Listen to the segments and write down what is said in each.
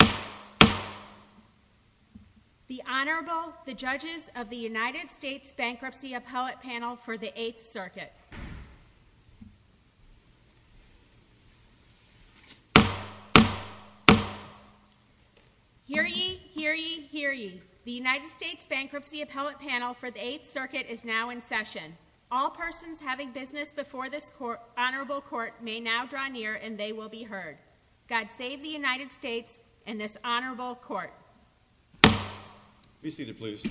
The Honorable, the judges of the United States Bankruptcy Appellate Panel for the 8th Circuit. Hear ye, hear ye, hear ye. The United States Bankruptcy Appellate Panel for the 8th Circuit is now in session. All persons having business before this honorable court may now draw near and they will be heard. God save the United States and this honorable court. Be seated, please.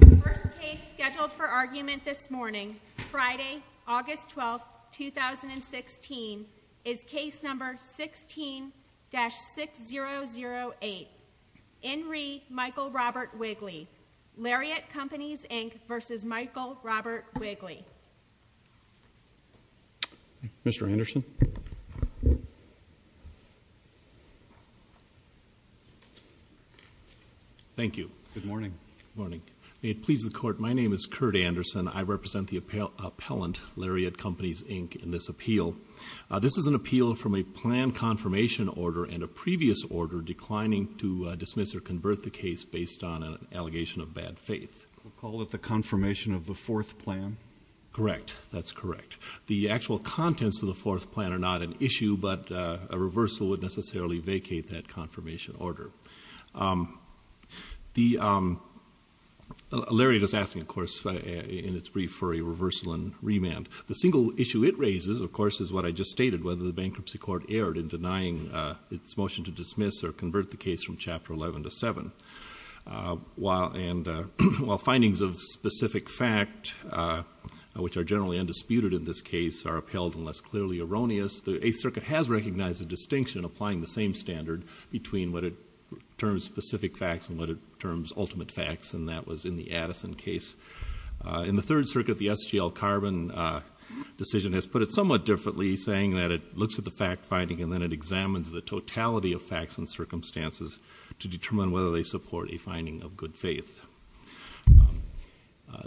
The first case scheduled for argument this morning, Friday, August 12, 2016, is case number 16-6008. In re, Michael Robert Wigley. Lariat Companies, Inc. v. Michael Robert Wigley. Mr. Anderson? Thank you. Good morning. Good morning. May it please the court, my name is Curt Anderson. I represent the appellant, Lariat Companies, Inc., in this appeal. This is an appeal from a plan confirmation order and a previous order declining to dismiss or convert the case based on an allegation of bad faith. Call it the confirmation of the fourth plan? Correct. That's correct. The actual contents of the fourth plan are not an issue, but a reversal would necessarily vacate that confirmation order. Lariat is asking, of course, in its brief, for a reversal and remand. The single issue it raises, of course, is what I just stated, whether the bankruptcy court erred in denying its motion to dismiss or convert the case from Chapter 11 to 7. While findings of specific fact, which are generally undisputed in this case, are upheld unless clearly erroneous, the Eighth Circuit has recognized a distinction applying the same standard between what it terms specific facts and what it terms ultimate facts, and that was in the Addison case. In the Third Circuit, the SGL Carbon decision has put it somewhat differently, saying that it looks at the fact finding and then it examines the totality of facts and circumstances to determine whether they support a finding of good faith.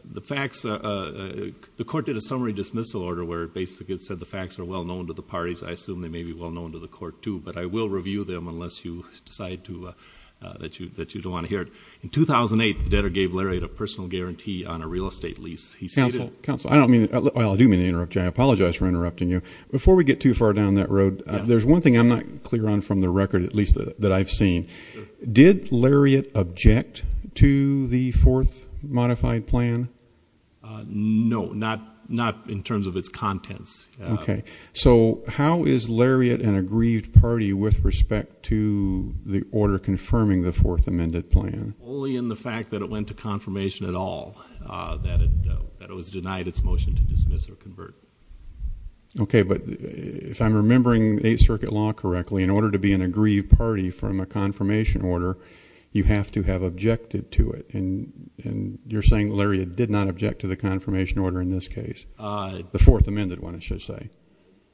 The court did a summary dismissal order where it basically said the facts are well known to the parties. I assume they may be well known to the court, too, but I will review them unless you decide that you don't want to hear it. In 2008, the debtor gave Lariat a personal guarantee on a real estate lease. Counsel, I do mean to interrupt you. I apologize for interrupting you. Before we get too far down that road, there's one thing I'm not clear on from the record, at least that I've seen. Did Lariat object to the fourth modified plan? No, not in terms of its contents. Okay. So how is Lariat an aggrieved party with respect to the order confirming the fourth amended plan? Only in the fact that it went to confirmation at all, that it was denied its motion to dismiss or convert. Okay. But if I'm remembering Eighth Circuit law correctly, in order to be an aggrieved party from a confirmation order, you have to have objected to it. And you're saying Lariat did not object to the confirmation order in this case, the fourth amended one, I should say.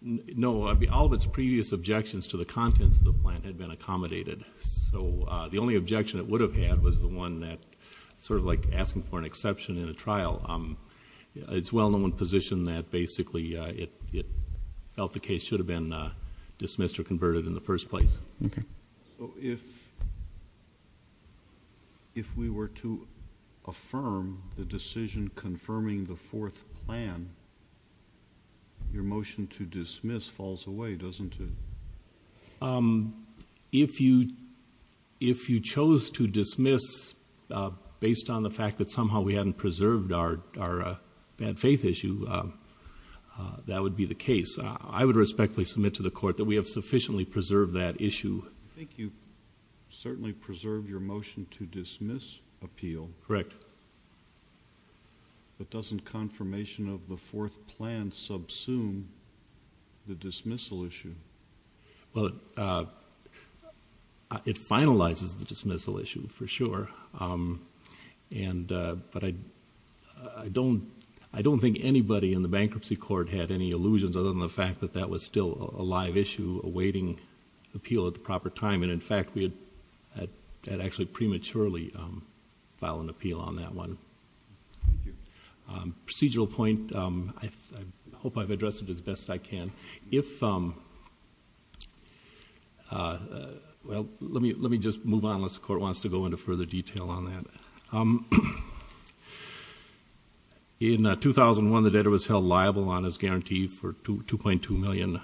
No. All of its previous objections to the contents of the plan had been accommodated. So the only objection it would have had was the one that sort of like asking for an exception in a trial. It's well in one position that basically it felt the case should have been dismissed or converted in the first place. Okay. If we were to affirm the decision confirming the fourth plan, your motion to dismiss falls away, doesn't it? If you chose to dismiss based on the fact that somehow we hadn't preserved our bad faith issue, that would be the case. I would respectfully submit to the court that we have sufficiently preserved that issue. I think you certainly preserved your motion to dismiss appeal. Correct. But doesn't confirmation of the fourth plan subsume the dismissal issue? Well, it finalizes the dismissal issue for sure. But I don't think anybody in the bankruptcy court had any illusions other than the fact that that was still a live issue awaiting appeal at the proper time. And in fact, we had actually prematurely filed an appeal on that one. Procedural point, I hope I've addressed it as best I can. Well, let me just move on unless the court wants to go into further detail on that. In 2001, the debtor was held liable on his guarantee for $2.2 million.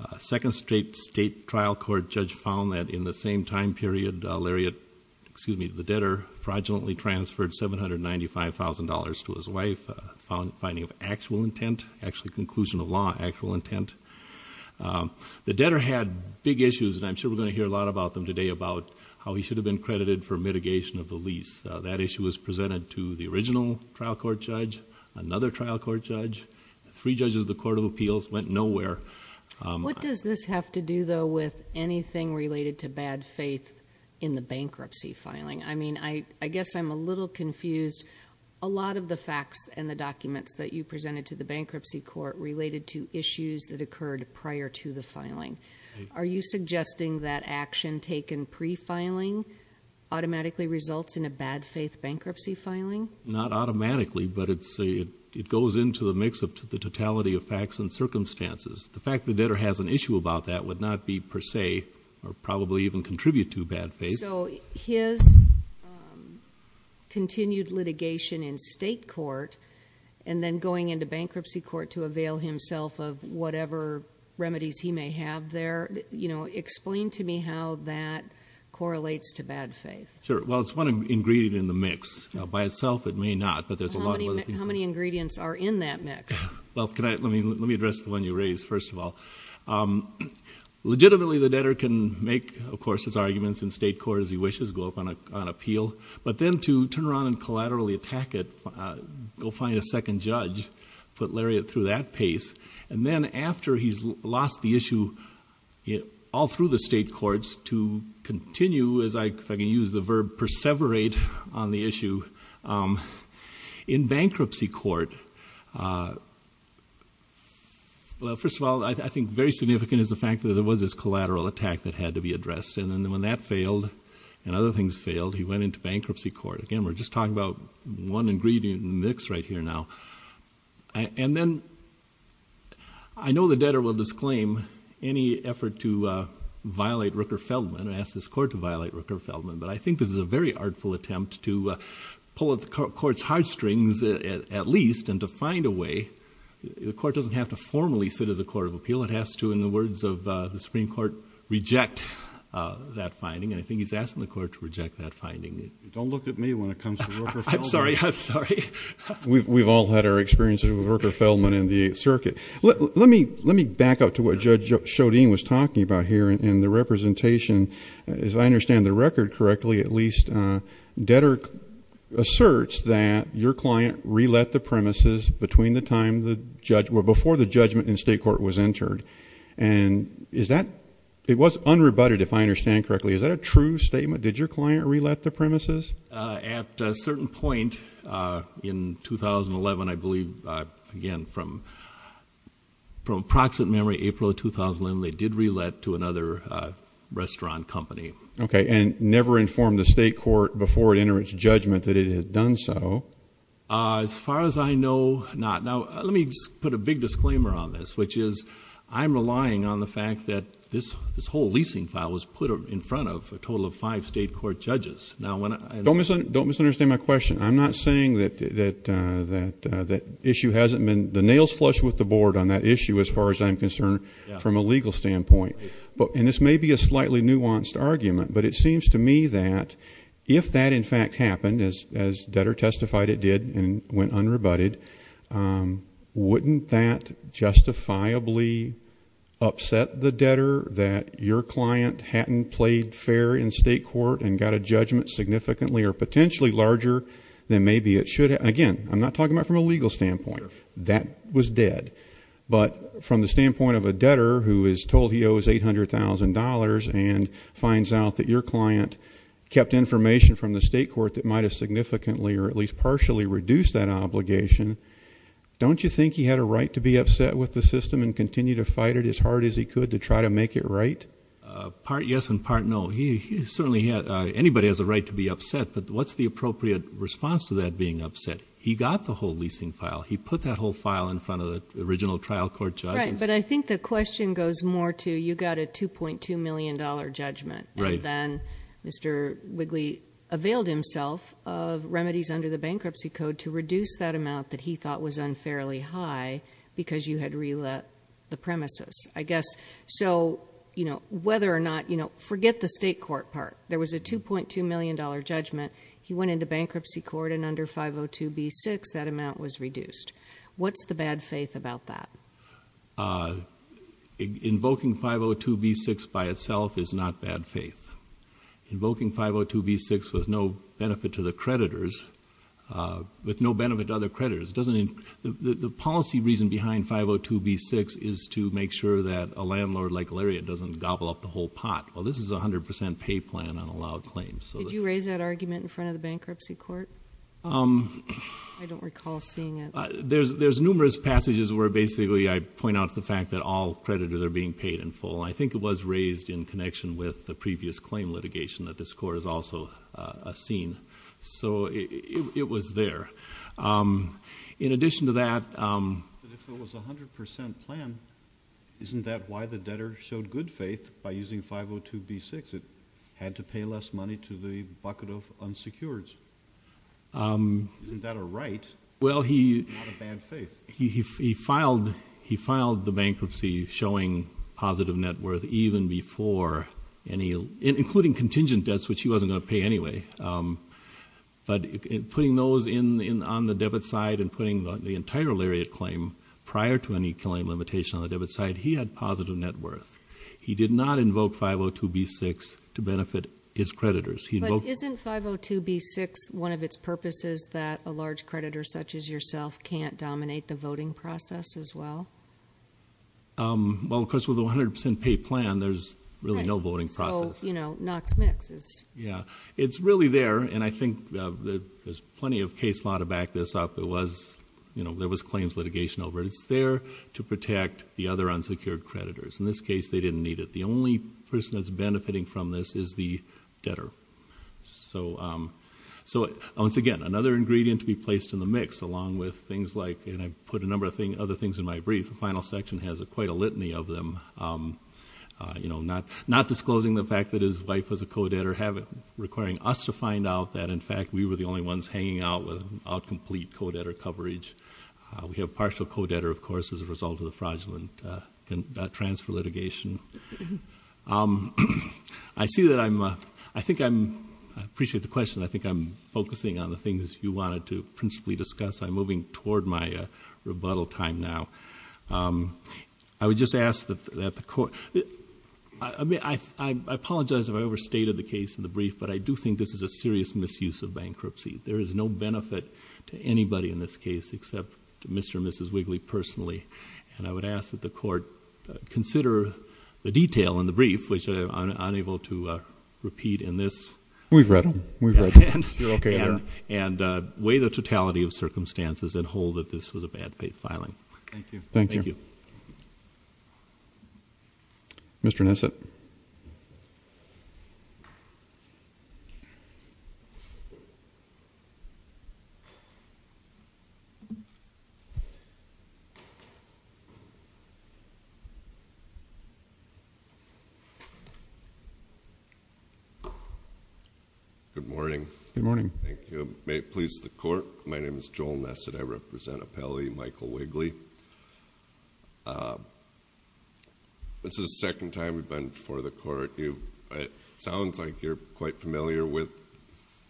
A second state trial court judge found that in the same time period, Lariat, excuse me, the debtor fraudulently transferred $795,000 to his wife, finding of actual intent, actually conclusion of law, actual intent. The debtor had big issues, and I'm sure we're going to hear a lot about them today, about how he should have been credited for mitigation of the lease. That issue was presented to the original trial court judge, another trial court judge. Three judges of the Court of Appeals went nowhere. What does this have to do, though, with anything related to bad faith in the bankruptcy filing? I mean, I guess I'm a little confused. A lot of the facts and the documents that you presented to the bankruptcy court related to issues that occurred prior to the filing. Are you suggesting that action taken pre-filing automatically results in a bad faith bankruptcy filing? Not automatically, but it goes into the mix of the totality of facts and circumstances. The fact the debtor has an issue about that would not be per se or probably even contribute to bad faith. So his continued litigation in state court and then going into bankruptcy court to avail himself of whatever remedies he may have there, explain to me how that correlates to bad faith. Sure. Well, it's one ingredient in the mix. By itself, it may not, but there's a lot of other things. How many ingredients are in that mix? Well, let me address the one you raised first of all. Legitimately, the debtor can make, of course, his arguments in state court as he wishes, go up on appeal. But then to turn around and collaterally attack it, go find a second judge, put Lariat through that pace. And then after he's lost the issue all through the state courts to continue, if I can use the verb, perseverate on the issue, in bankruptcy court, well, first of all, I think very significant is the fact that there was this collateral attack that had to be addressed. And then when that failed and other things failed, he went into bankruptcy court. Again, we're just talking about one ingredient in the mix right here now. And then I know the debtor will disclaim any effort to violate Rooker-Feldman. I asked this court to violate Rooker-Feldman. But I think this is a very artful attempt to pull at the court's heartstrings at least and to find a way. The court doesn't have to formally sit as a court of appeal. It has to, in the words of the Supreme Court, reject that finding. And I think he's asking the court to reject that finding. Don't look at me when it comes to Rooker-Feldman. I'm sorry. I'm sorry. We've all had our experiences with Rooker-Feldman in the Eighth Circuit. Let me back up to what Judge Chaudine was talking about here in the representation. As I understand the record correctly, at least, debtor asserts that your client re-let the premises between the time the judge or before the judgment in state court was entered. And is that ‑‑ it was unrebutted, if I understand correctly. Is that a true statement? Did your client re-let the premises? At a certain point in 2011, I believe, again, from approximate memory, April of 2011, they did re-let to another restaurant company. Okay. And never informed the state court before it entered its judgment that it had done so. As far as I know, not. Now, let me put a big disclaimer on this, which is I'm relying on the fact that this whole leasing file was put in front of a total of five state court judges. Don't misunderstand my question. I'm not saying that issue hasn't been ‑‑ the nail's flush with the board on that issue, as far as I'm concerned, from a legal standpoint. And this may be a slightly nuanced argument, but it seems to me that if that, in fact, happened, as debtor testified it did and went unrebutted, wouldn't that justifiably upset the debtor that your client hadn't played fair in state court and got a judgment significantly or potentially larger than maybe it should have? Again, I'm not talking about from a legal standpoint. That was dead. But from the standpoint of a debtor who is told he owes $800,000 and finds out that your client kept information from the state court that might have significantly or at least partially reduced that obligation, don't you think he had a right to be upset with the system and continue to fight it as hard as he could to try to make it right? Part yes and part no. He certainly had ‑‑ anybody has a right to be upset, but what's the appropriate response to that being upset? He got the whole leasing file. He put that whole file in front of the original trial court judges. Right, but I think the question goes more to you got a $2.2 million judgment. Right. And then Mr. Wigley availed himself of remedies under the bankruptcy code to reduce that amount that he thought was unfairly high because you had relet the premises, I guess. So, you know, whether or not, you know, forget the state court part. There was a $2.2 million judgment. He went into bankruptcy court and under 502B6 that amount was reduced. What's the bad faith about that? Invoking 502B6 by itself is not bad faith. Invoking 502B6 with no benefit to the creditors, with no benefit to other creditors, the policy reason behind 502B6 is to make sure that a landlord like Lariat doesn't gobble up the whole pot. Well, this is a 100% pay plan on allowed claims. Did you raise that argument in front of the bankruptcy court? I don't recall seeing it. There's numerous passages where basically I point out the fact that all creditors are being paid in full, and I think it was raised in connection with the previous claim litigation that this court has also seen. So it was there. In addition to that- But if it was a 100% plan, isn't that why the debtor showed good faith by using 502B6? It had to pay less money to the bucket of unsecureds. Isn't that a right? Well, he filed the bankruptcy showing positive net worth even before any- including contingent debts, which he wasn't going to pay anyway. But putting those on the debit side and putting the entire Lariat claim prior to any claim limitation on the debit side, he had positive net worth. He did not invoke 502B6 to benefit his creditors. But isn't 502B6 one of its purposes that a large creditor such as yourself can't dominate the voting process as well? Well, of course, with a 100% paid plan, there's really no voting process. Right. So, you know, Knox Mix is- Yeah. It's really there, and I think there's plenty of case law to back this up. There was claims litigation over it. It's there to protect the other unsecured creditors. In this case, they didn't need it. The only person that's benefiting from this is the debtor. So, once again, another ingredient to be placed in the mix along with things like- and I put a number of other things in my brief. The final section has quite a litany of them. You know, not disclosing the fact that his wife was a co-debtor, requiring us to find out that, in fact, we were the only ones hanging out without complete co-debtor coverage. We have partial co-debtor, of course, as a result of the fraudulent transfer litigation. I see that I'm- I think I'm- I appreciate the question. I think I'm focusing on the things you wanted to principally discuss. I'm moving toward my rebuttal time now. I would just ask that the court- I apologize if I overstated the case in the brief, but I do think this is a serious misuse of bankruptcy. There is no benefit to anybody in this case except to Mr. and Mrs. Wigley personally. And I would ask that the court consider the detail in the brief, which I'm unable to repeat in this- We've read them. We've read them. You're okay there. And weigh the totality of circumstances and hold that this was a bad filing. Thank you. Thank you. Thank you. Mr. Nesset. Good morning. Good morning. Thank you. May it please the court, my name is Joel Nesset. I represent Appellee Michael Wigley. It sounds like you're quite familiar with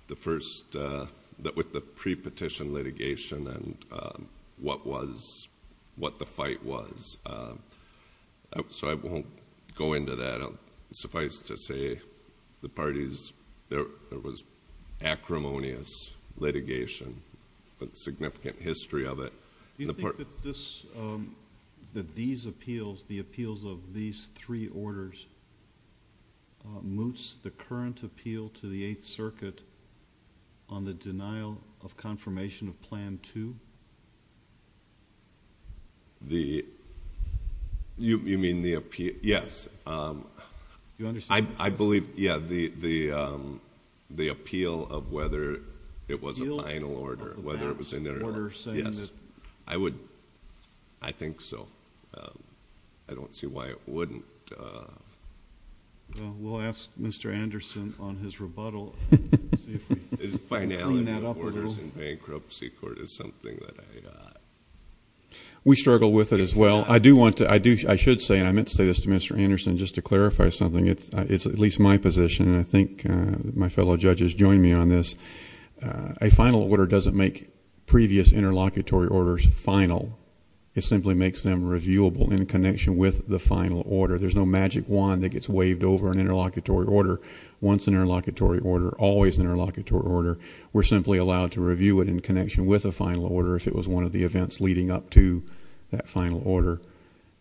the pre-petition litigation and what the fight was. So I won't go into that. Suffice to say the parties, there was acrimonious litigation, a significant history of it. Do you think that these appeals, the appeals of these three orders, moots the current appeal to the Eighth Circuit on the denial of confirmation of Plan 2? You mean the appeal? Yes. I believe, yeah, the appeal of whether it was a final order, whether it was in their order. Yes. I would... I think so. I don't see why it wouldn't... Well, we'll ask Mr. Anderson on his rebuttal. His finality of orders in bankruptcy court is something that I... We struggle with it as well. I do want to... I should say, and I meant to say this to Mr. Anderson, just to clarify something. It's at least my position, and I think my fellow judges join me on this. A final order doesn't make previous interlocutory orders final. It simply makes them reviewable in connection with the final order. There's no magic wand that gets waved over an interlocutory order. Once an interlocutory order, always an interlocutory order, we're simply allowed to review it in connection with a final order if it was one of the events leading up to that final order.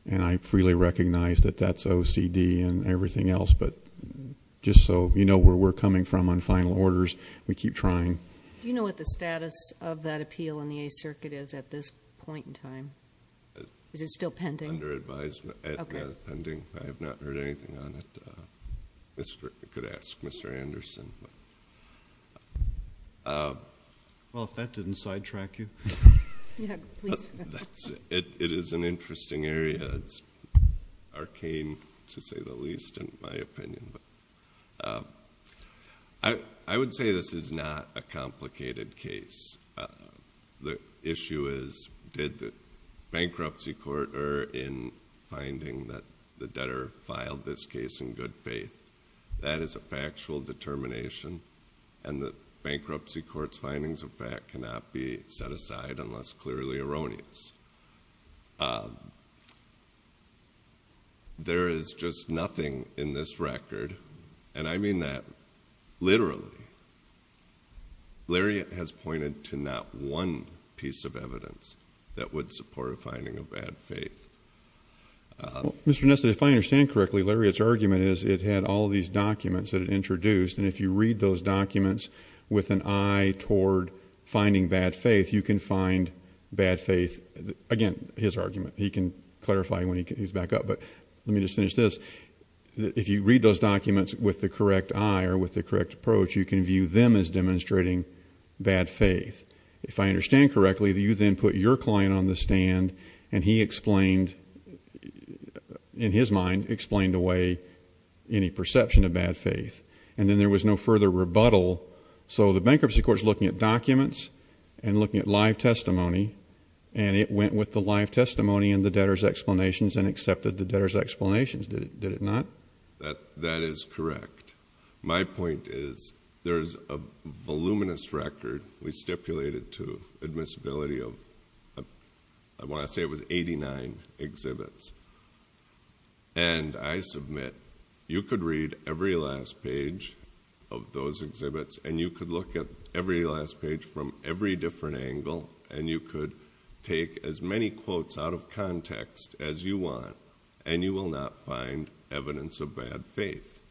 And I freely recognize that that's OCD and everything else, but just so you know where we're coming from on final orders, we keep trying. Do you know what the status of that appeal in the Eighth Circuit is at this point in time? Is it still pending? Under advisement. Okay. Not pending. I have not heard anything on it. I could ask Mr. Anderson. Well, if that didn't sidetrack you... It's arcane, to say the least, in my opinion. I would say this is not a complicated case. The issue is, did the bankruptcy court err in finding that the debtor filed this case in good faith? That is a factual determination, and the bankruptcy court's findings of fact cannot be set aside unless clearly erroneous. There is just nothing in this record, and I mean that literally. Lariat has pointed to not one piece of evidence that would support a finding of bad faith. Mr. Ness, if I understand correctly, Lariat's argument is it had all these documents that it introduced, and if you read those documents with an eye toward finding bad faith, you can find bad faith. Again, his argument. He can clarify when he's back up, but let me just finish this. If you read those documents with the correct eye or with the correct approach, you can view them as demonstrating bad faith. If I understand correctly, you then put your client on the stand, and he explained, in his mind, explained away any perception of bad faith, and then there was no further rebuttal. So the bankruptcy court is looking at documents and looking at live testimony, and it went with the live testimony and the debtor's explanations and accepted the debtor's explanations, did it not? That is correct. My point is there is a voluminous record we stipulated to admissibility of, I want to say it was 89 exhibits, and I submit you could read every last page of those exhibits and you could look at every last page from every different angle and you could take as many quotes out of context as you want and you will not find evidence of bad faith.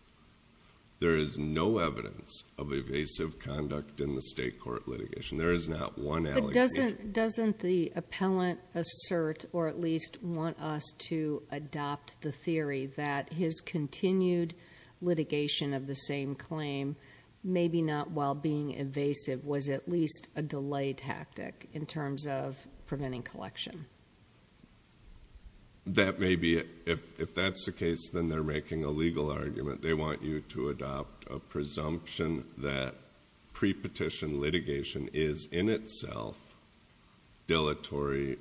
There is no evidence of evasive conduct in the state court litigation. There is not one allegation. Doesn't the appellant assert or at least want us to adopt the theory that his continued litigation of the same claim, maybe not while being evasive, was at least a delay tactic in terms of preventing collection? That may be it. If that's the case, then they're making a legal argument. They want you to adopt a presumption that pre-petition litigation is in itself dilatory.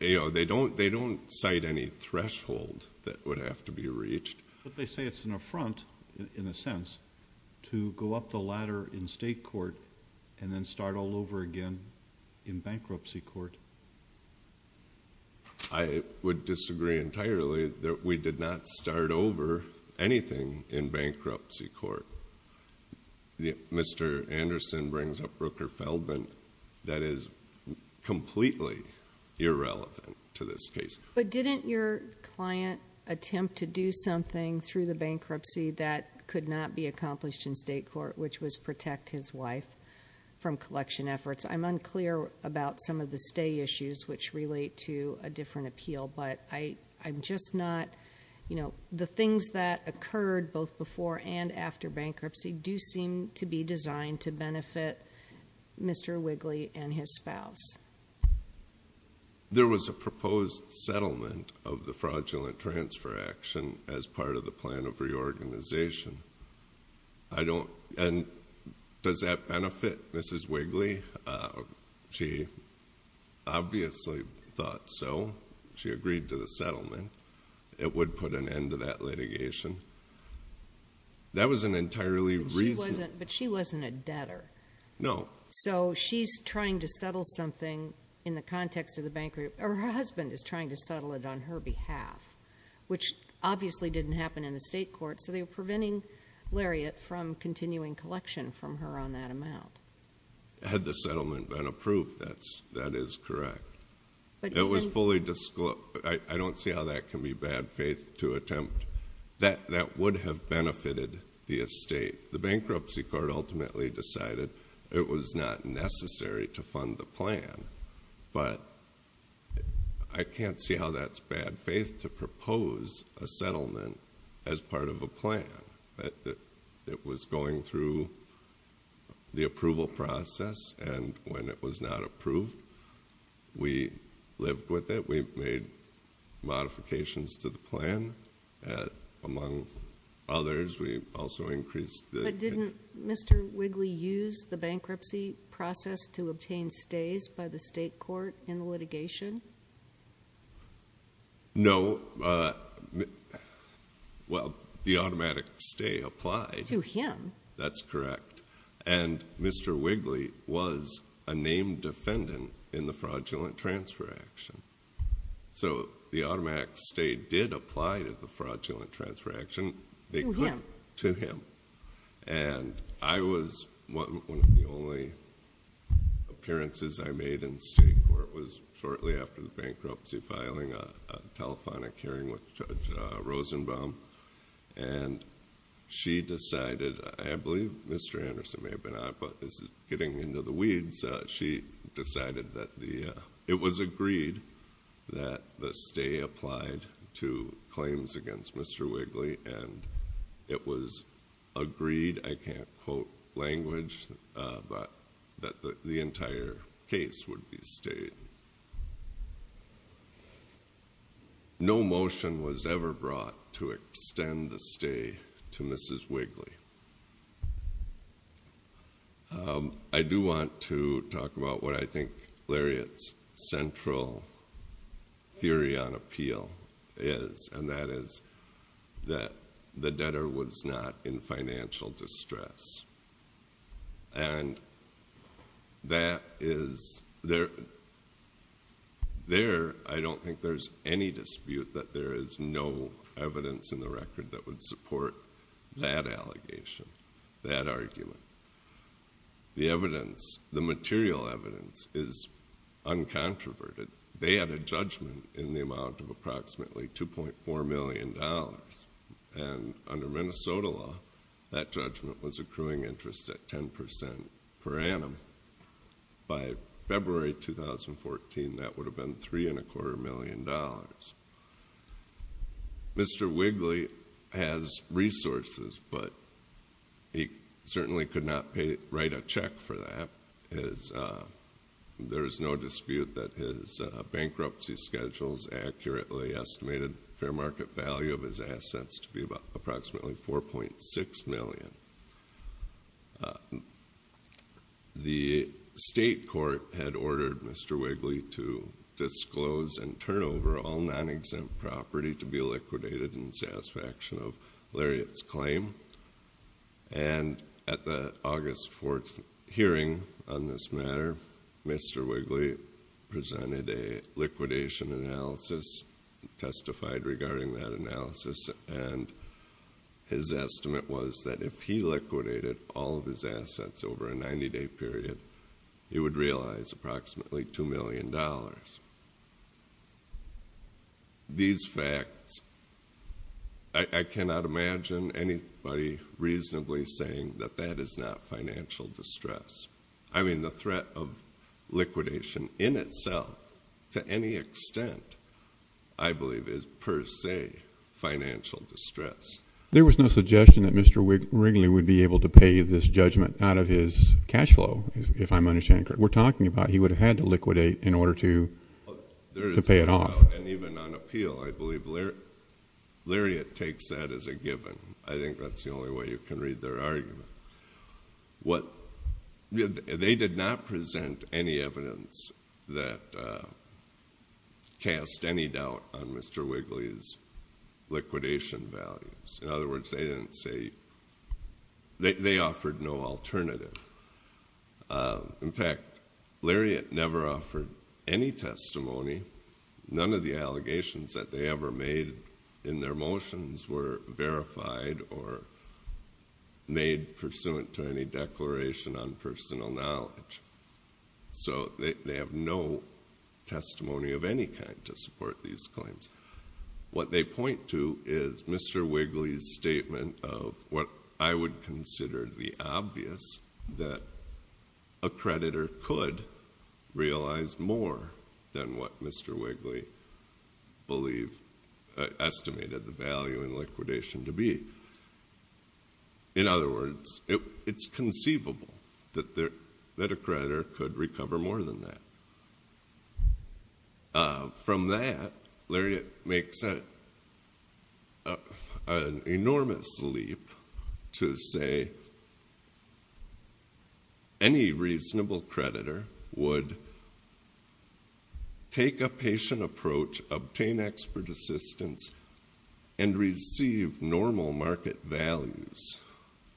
They don't cite any threshold that would have to be reached. But they say it's an affront, in a sense, to go up the ladder in state court and then start all over again in bankruptcy court. I would disagree entirely that we did not start over anything in bankruptcy court. Mr. Anderson brings up Brooker Feldman. That is completely irrelevant to this case. But didn't your client attempt to do something through the bankruptcy that could not be accomplished in state court, which was protect his wife from collection efforts? I'm unclear about some of the stay issues, which relate to a different appeal, but I'm just not. The things that occurred both before and after bankruptcy do seem to be designed to benefit Mr. Wigley and his spouse. There was a proposed settlement of the fraudulent transfer action as part of the plan of reorganization. And does that benefit Mrs. Wigley? She obviously thought so. She agreed to the settlement. It would put an end to that litigation. That was an entirely reasonable... But she wasn't a debtor. No. So she's trying to settle something in the context of the bankruptcy. Her husband is trying to settle it on her behalf, which obviously didn't happen in the state court, so they were preventing Lariat from continuing collection from her on that amount. Had the settlement been approved, that is correct. It was fully disclosed. I don't see how that can be bad faith to attempt. That would have benefited the estate. The bankruptcy court ultimately decided it was not necessary to fund the plan, but I can't see how that's bad faith to propose a settlement as part of a plan. It was going through the approval process, and when it was not approved, we lived with it. We made modifications to the plan. Among others, we also increased the... But didn't Mr. Wigley use the bankruptcy process to obtain stays by the state court in the litigation? No. Well, the automatic stay applied. To him. That's correct. And Mr. Wigley was a named defendant in the fraudulent transfer action. So the automatic stay did apply to the fraudulent transfer action. To him. To him. And I was one of the only appearances I made in the state court was shortly after the bankruptcy filing, a telephonic hearing with Judge Rosenbaum. And she decided, I believe Mr. Anderson may have been on it, but this is getting into the weeds. She decided that it was agreed that the stay applied to claims against Mr. Wigley, and it was agreed, I can't quote language, but that the entire case would be stayed. No motion was ever brought to extend the stay to Mrs. Wigley. I do want to talk about what I think Lariat's central theory on appeal is, and that is that the debtor was not in financial distress. And there, I don't think there's any dispute that there is no evidence in the record that would support that allegation, that argument. The evidence, the material evidence, is uncontroverted. They had a judgment in the amount of approximately $2.4 million. And under Minnesota law, that judgment was accruing interest at 10% per annum. By February 2014, that would have been $3.25 million. Mr. Wigley has resources, but he certainly could not write a check for that. There is no dispute that his bankruptcy schedules accurately estimated fair market value of his assets to be approximately $4.6 million. The state court had ordered Mr. Wigley to disclose and turn over all non-exempt property to be liquidated in satisfaction of Lariat's claim. And at the August 4th hearing on this matter, Mr. Wigley presented a liquidation analysis, testified regarding that analysis, and his estimate was that if he liquidated all of his assets over a 90-day period, he would realize approximately $2 million. These facts, I cannot imagine anybody reasonably saying that that is not financial distress. I mean, the threat of liquidation in itself to any extent, I believe, is per se financial distress. There was no suggestion that Mr. Wigley would be able to pay this judgment out of his cash flow, if I'm understanding correctly. If that's what we're talking about, he would have had to liquidate in order to pay it off. There is no doubt, and even on appeal, I believe Lariat takes that as a given. I think that's the only way you can read their argument. They did not present any evidence that cast any doubt on Mr. Wigley's liquidation values. In other words, they offered no alternative. In fact, Lariat never offered any testimony. None of the allegations that they ever made in their motions were verified or made pursuant to any declaration on personal knowledge. So they have no testimony of any kind to support these claims. What they point to is Mr. Wigley's statement of what I would consider the obvious, that a creditor could realize more than what Mr. Wigley estimated the value in liquidation to be. In other words, it's conceivable that a creditor could recover more than that. From that, Lariat makes an enormous leap to say any reasonable creditor would take a patient approach, obtain expert assistance, and receive normal market values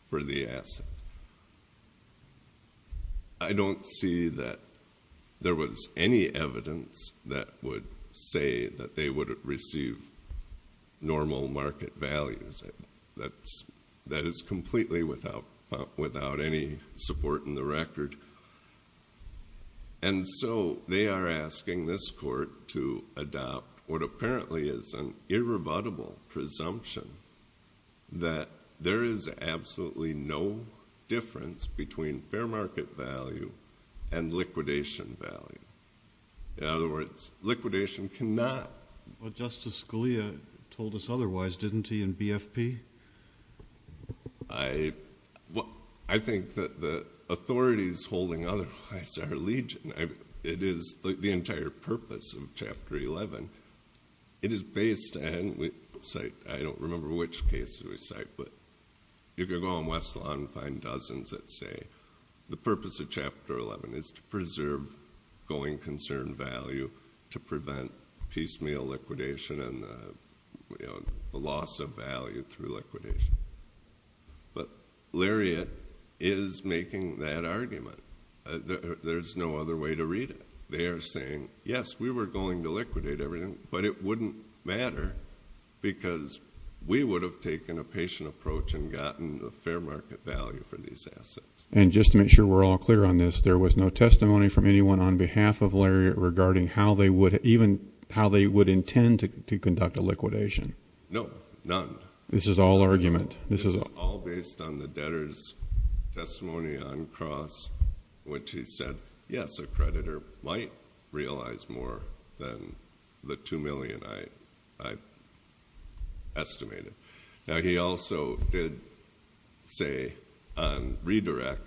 for the asset. I don't see that there was any evidence that would say that they would receive normal market values. That is completely without any support in the record. And so they are asking this court to adopt what apparently is an irrebuttable presumption that there is absolutely no difference between fair market value and liquidation value. In other words, liquidation cannot. Well, Justice Scalia told us otherwise, didn't he, in BFP? I think that the authorities holding otherwise are legion. It is the entire purpose of Chapter 11. It is based on, I don't remember which cases we cite, but you can go on West Lawn and find dozens that say the purpose of Chapter 11 is to preserve going concern value to prevent piecemeal liquidation and the loss of value through liquidation. But Lariat is making that argument. There's no other way to read it. They are saying, yes, we were going to liquidate everything, but it wouldn't matter because we would have taken a patient approach and gotten a fair market value for these assets. And just to make sure we're all clear on this, there was no testimony from anyone on behalf of Lariat regarding how they would intend to conduct a liquidation. No, none. This is all argument. This is all based on the debtor's testimony on Cross, which he said, yes, a creditor might realize more than the $2 million I estimated. Now, he also did say on redirect,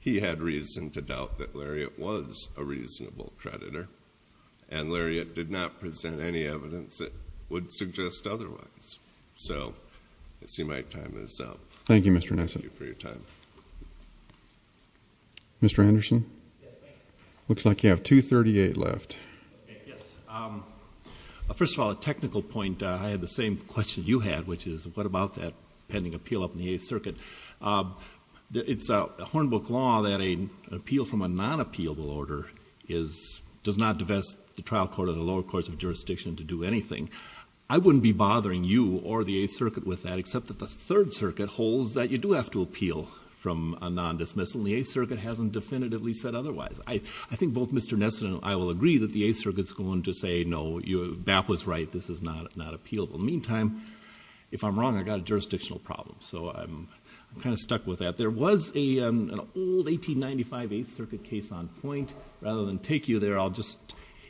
he had reason to doubt that Lariat was a reasonable creditor, and Lariat did not present any evidence that would suggest otherwise. So I see my time is up. Thank you, Mr. Nesson. Thank you for your time. Mr. Anderson? Looks like you have 2.38 left. Yes. First of all, a technical point. I had the same question you had, which is what about that pending appeal up in the Eighth Circuit? It's a Hornbook law that an appeal from a non-appealable order does not divest the trial court or the lower courts of jurisdiction to do anything. I wouldn't be bothering you or the Eighth Circuit with that, except that the Third Circuit holds that you do have to appeal from a non-dismissal, and the Eighth Circuit hasn't definitively said otherwise. I think both Mr. Nesson and I will agree that the Eighth Circuit is going to say, no, BAP was right, this is not appealable. In the meantime, if I'm wrong, I've got a jurisdictional problem, so I'm kind of stuck with that. There was an old 1895 Eighth Circuit case on point. Rather than take you there,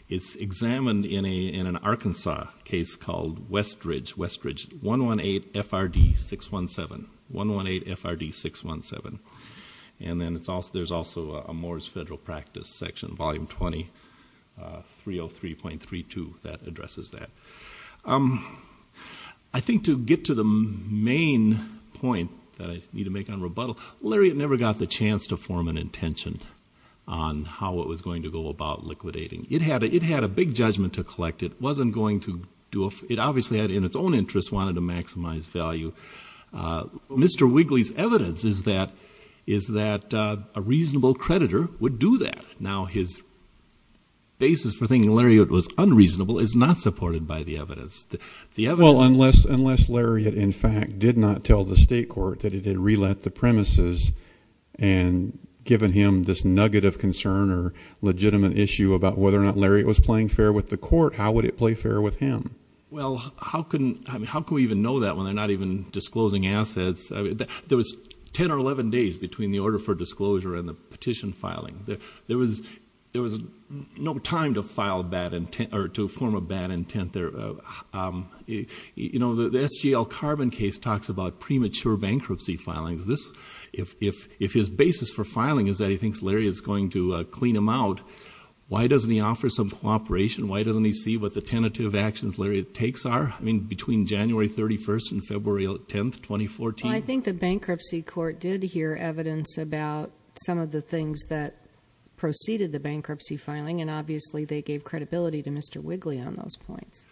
it's examined in an Arkansas case called Westridge, 118 FRD 617, 118 FRD 617. And then there's also a Moore's Federal Practice section, volume 20, 303.32, that addresses that. I think to get to the main point that I need to make on rebuttal, Lariat never got the chance to form an intention on how it was going to go about liquidating. It had a big judgment to collect. It obviously in its own interest wanted to maximize value. Mr. Wigley's evidence is that a reasonable creditor would do that. Now, his basis for thinking Lariat was unreasonable is not supported by the evidence. Well, unless Lariat, in fact, did not tell the state court that it had relet the premises and given him this nugget of concern or legitimate issue about whether or not Lariat was playing fair with the court, how would it play fair with him? Well, how can we even know that when they're not even disclosing assets? There was 10 or 11 days between the order for disclosure and the petition filing. There was no time to form a bad intent there. You know, the SGL Carbon case talks about premature bankruptcy filings. If his basis for filing is that he thinks Lariat is going to clean him out, why doesn't he offer some cooperation? Why doesn't he see what the tentative actions Lariat takes are? I mean, between January 31st and February 10th, 2014. Well, I think the bankruptcy court did hear evidence about some of the things that preceded the bankruptcy filing, and obviously they gave credibility to Mr. Wigley on those points.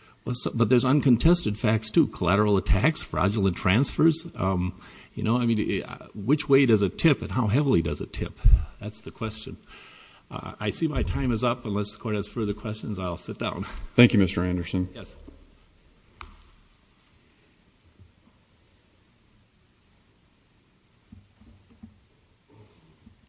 But there's uncontested facts, too, collateral attacks, fraudulent transfers. You know, I mean, which way does it tip and how heavily does it tip? That's the question. I see my time is up. Unless the court has further questions, I'll sit down. Thank you, Mr. Anderson. Yes. Thank you.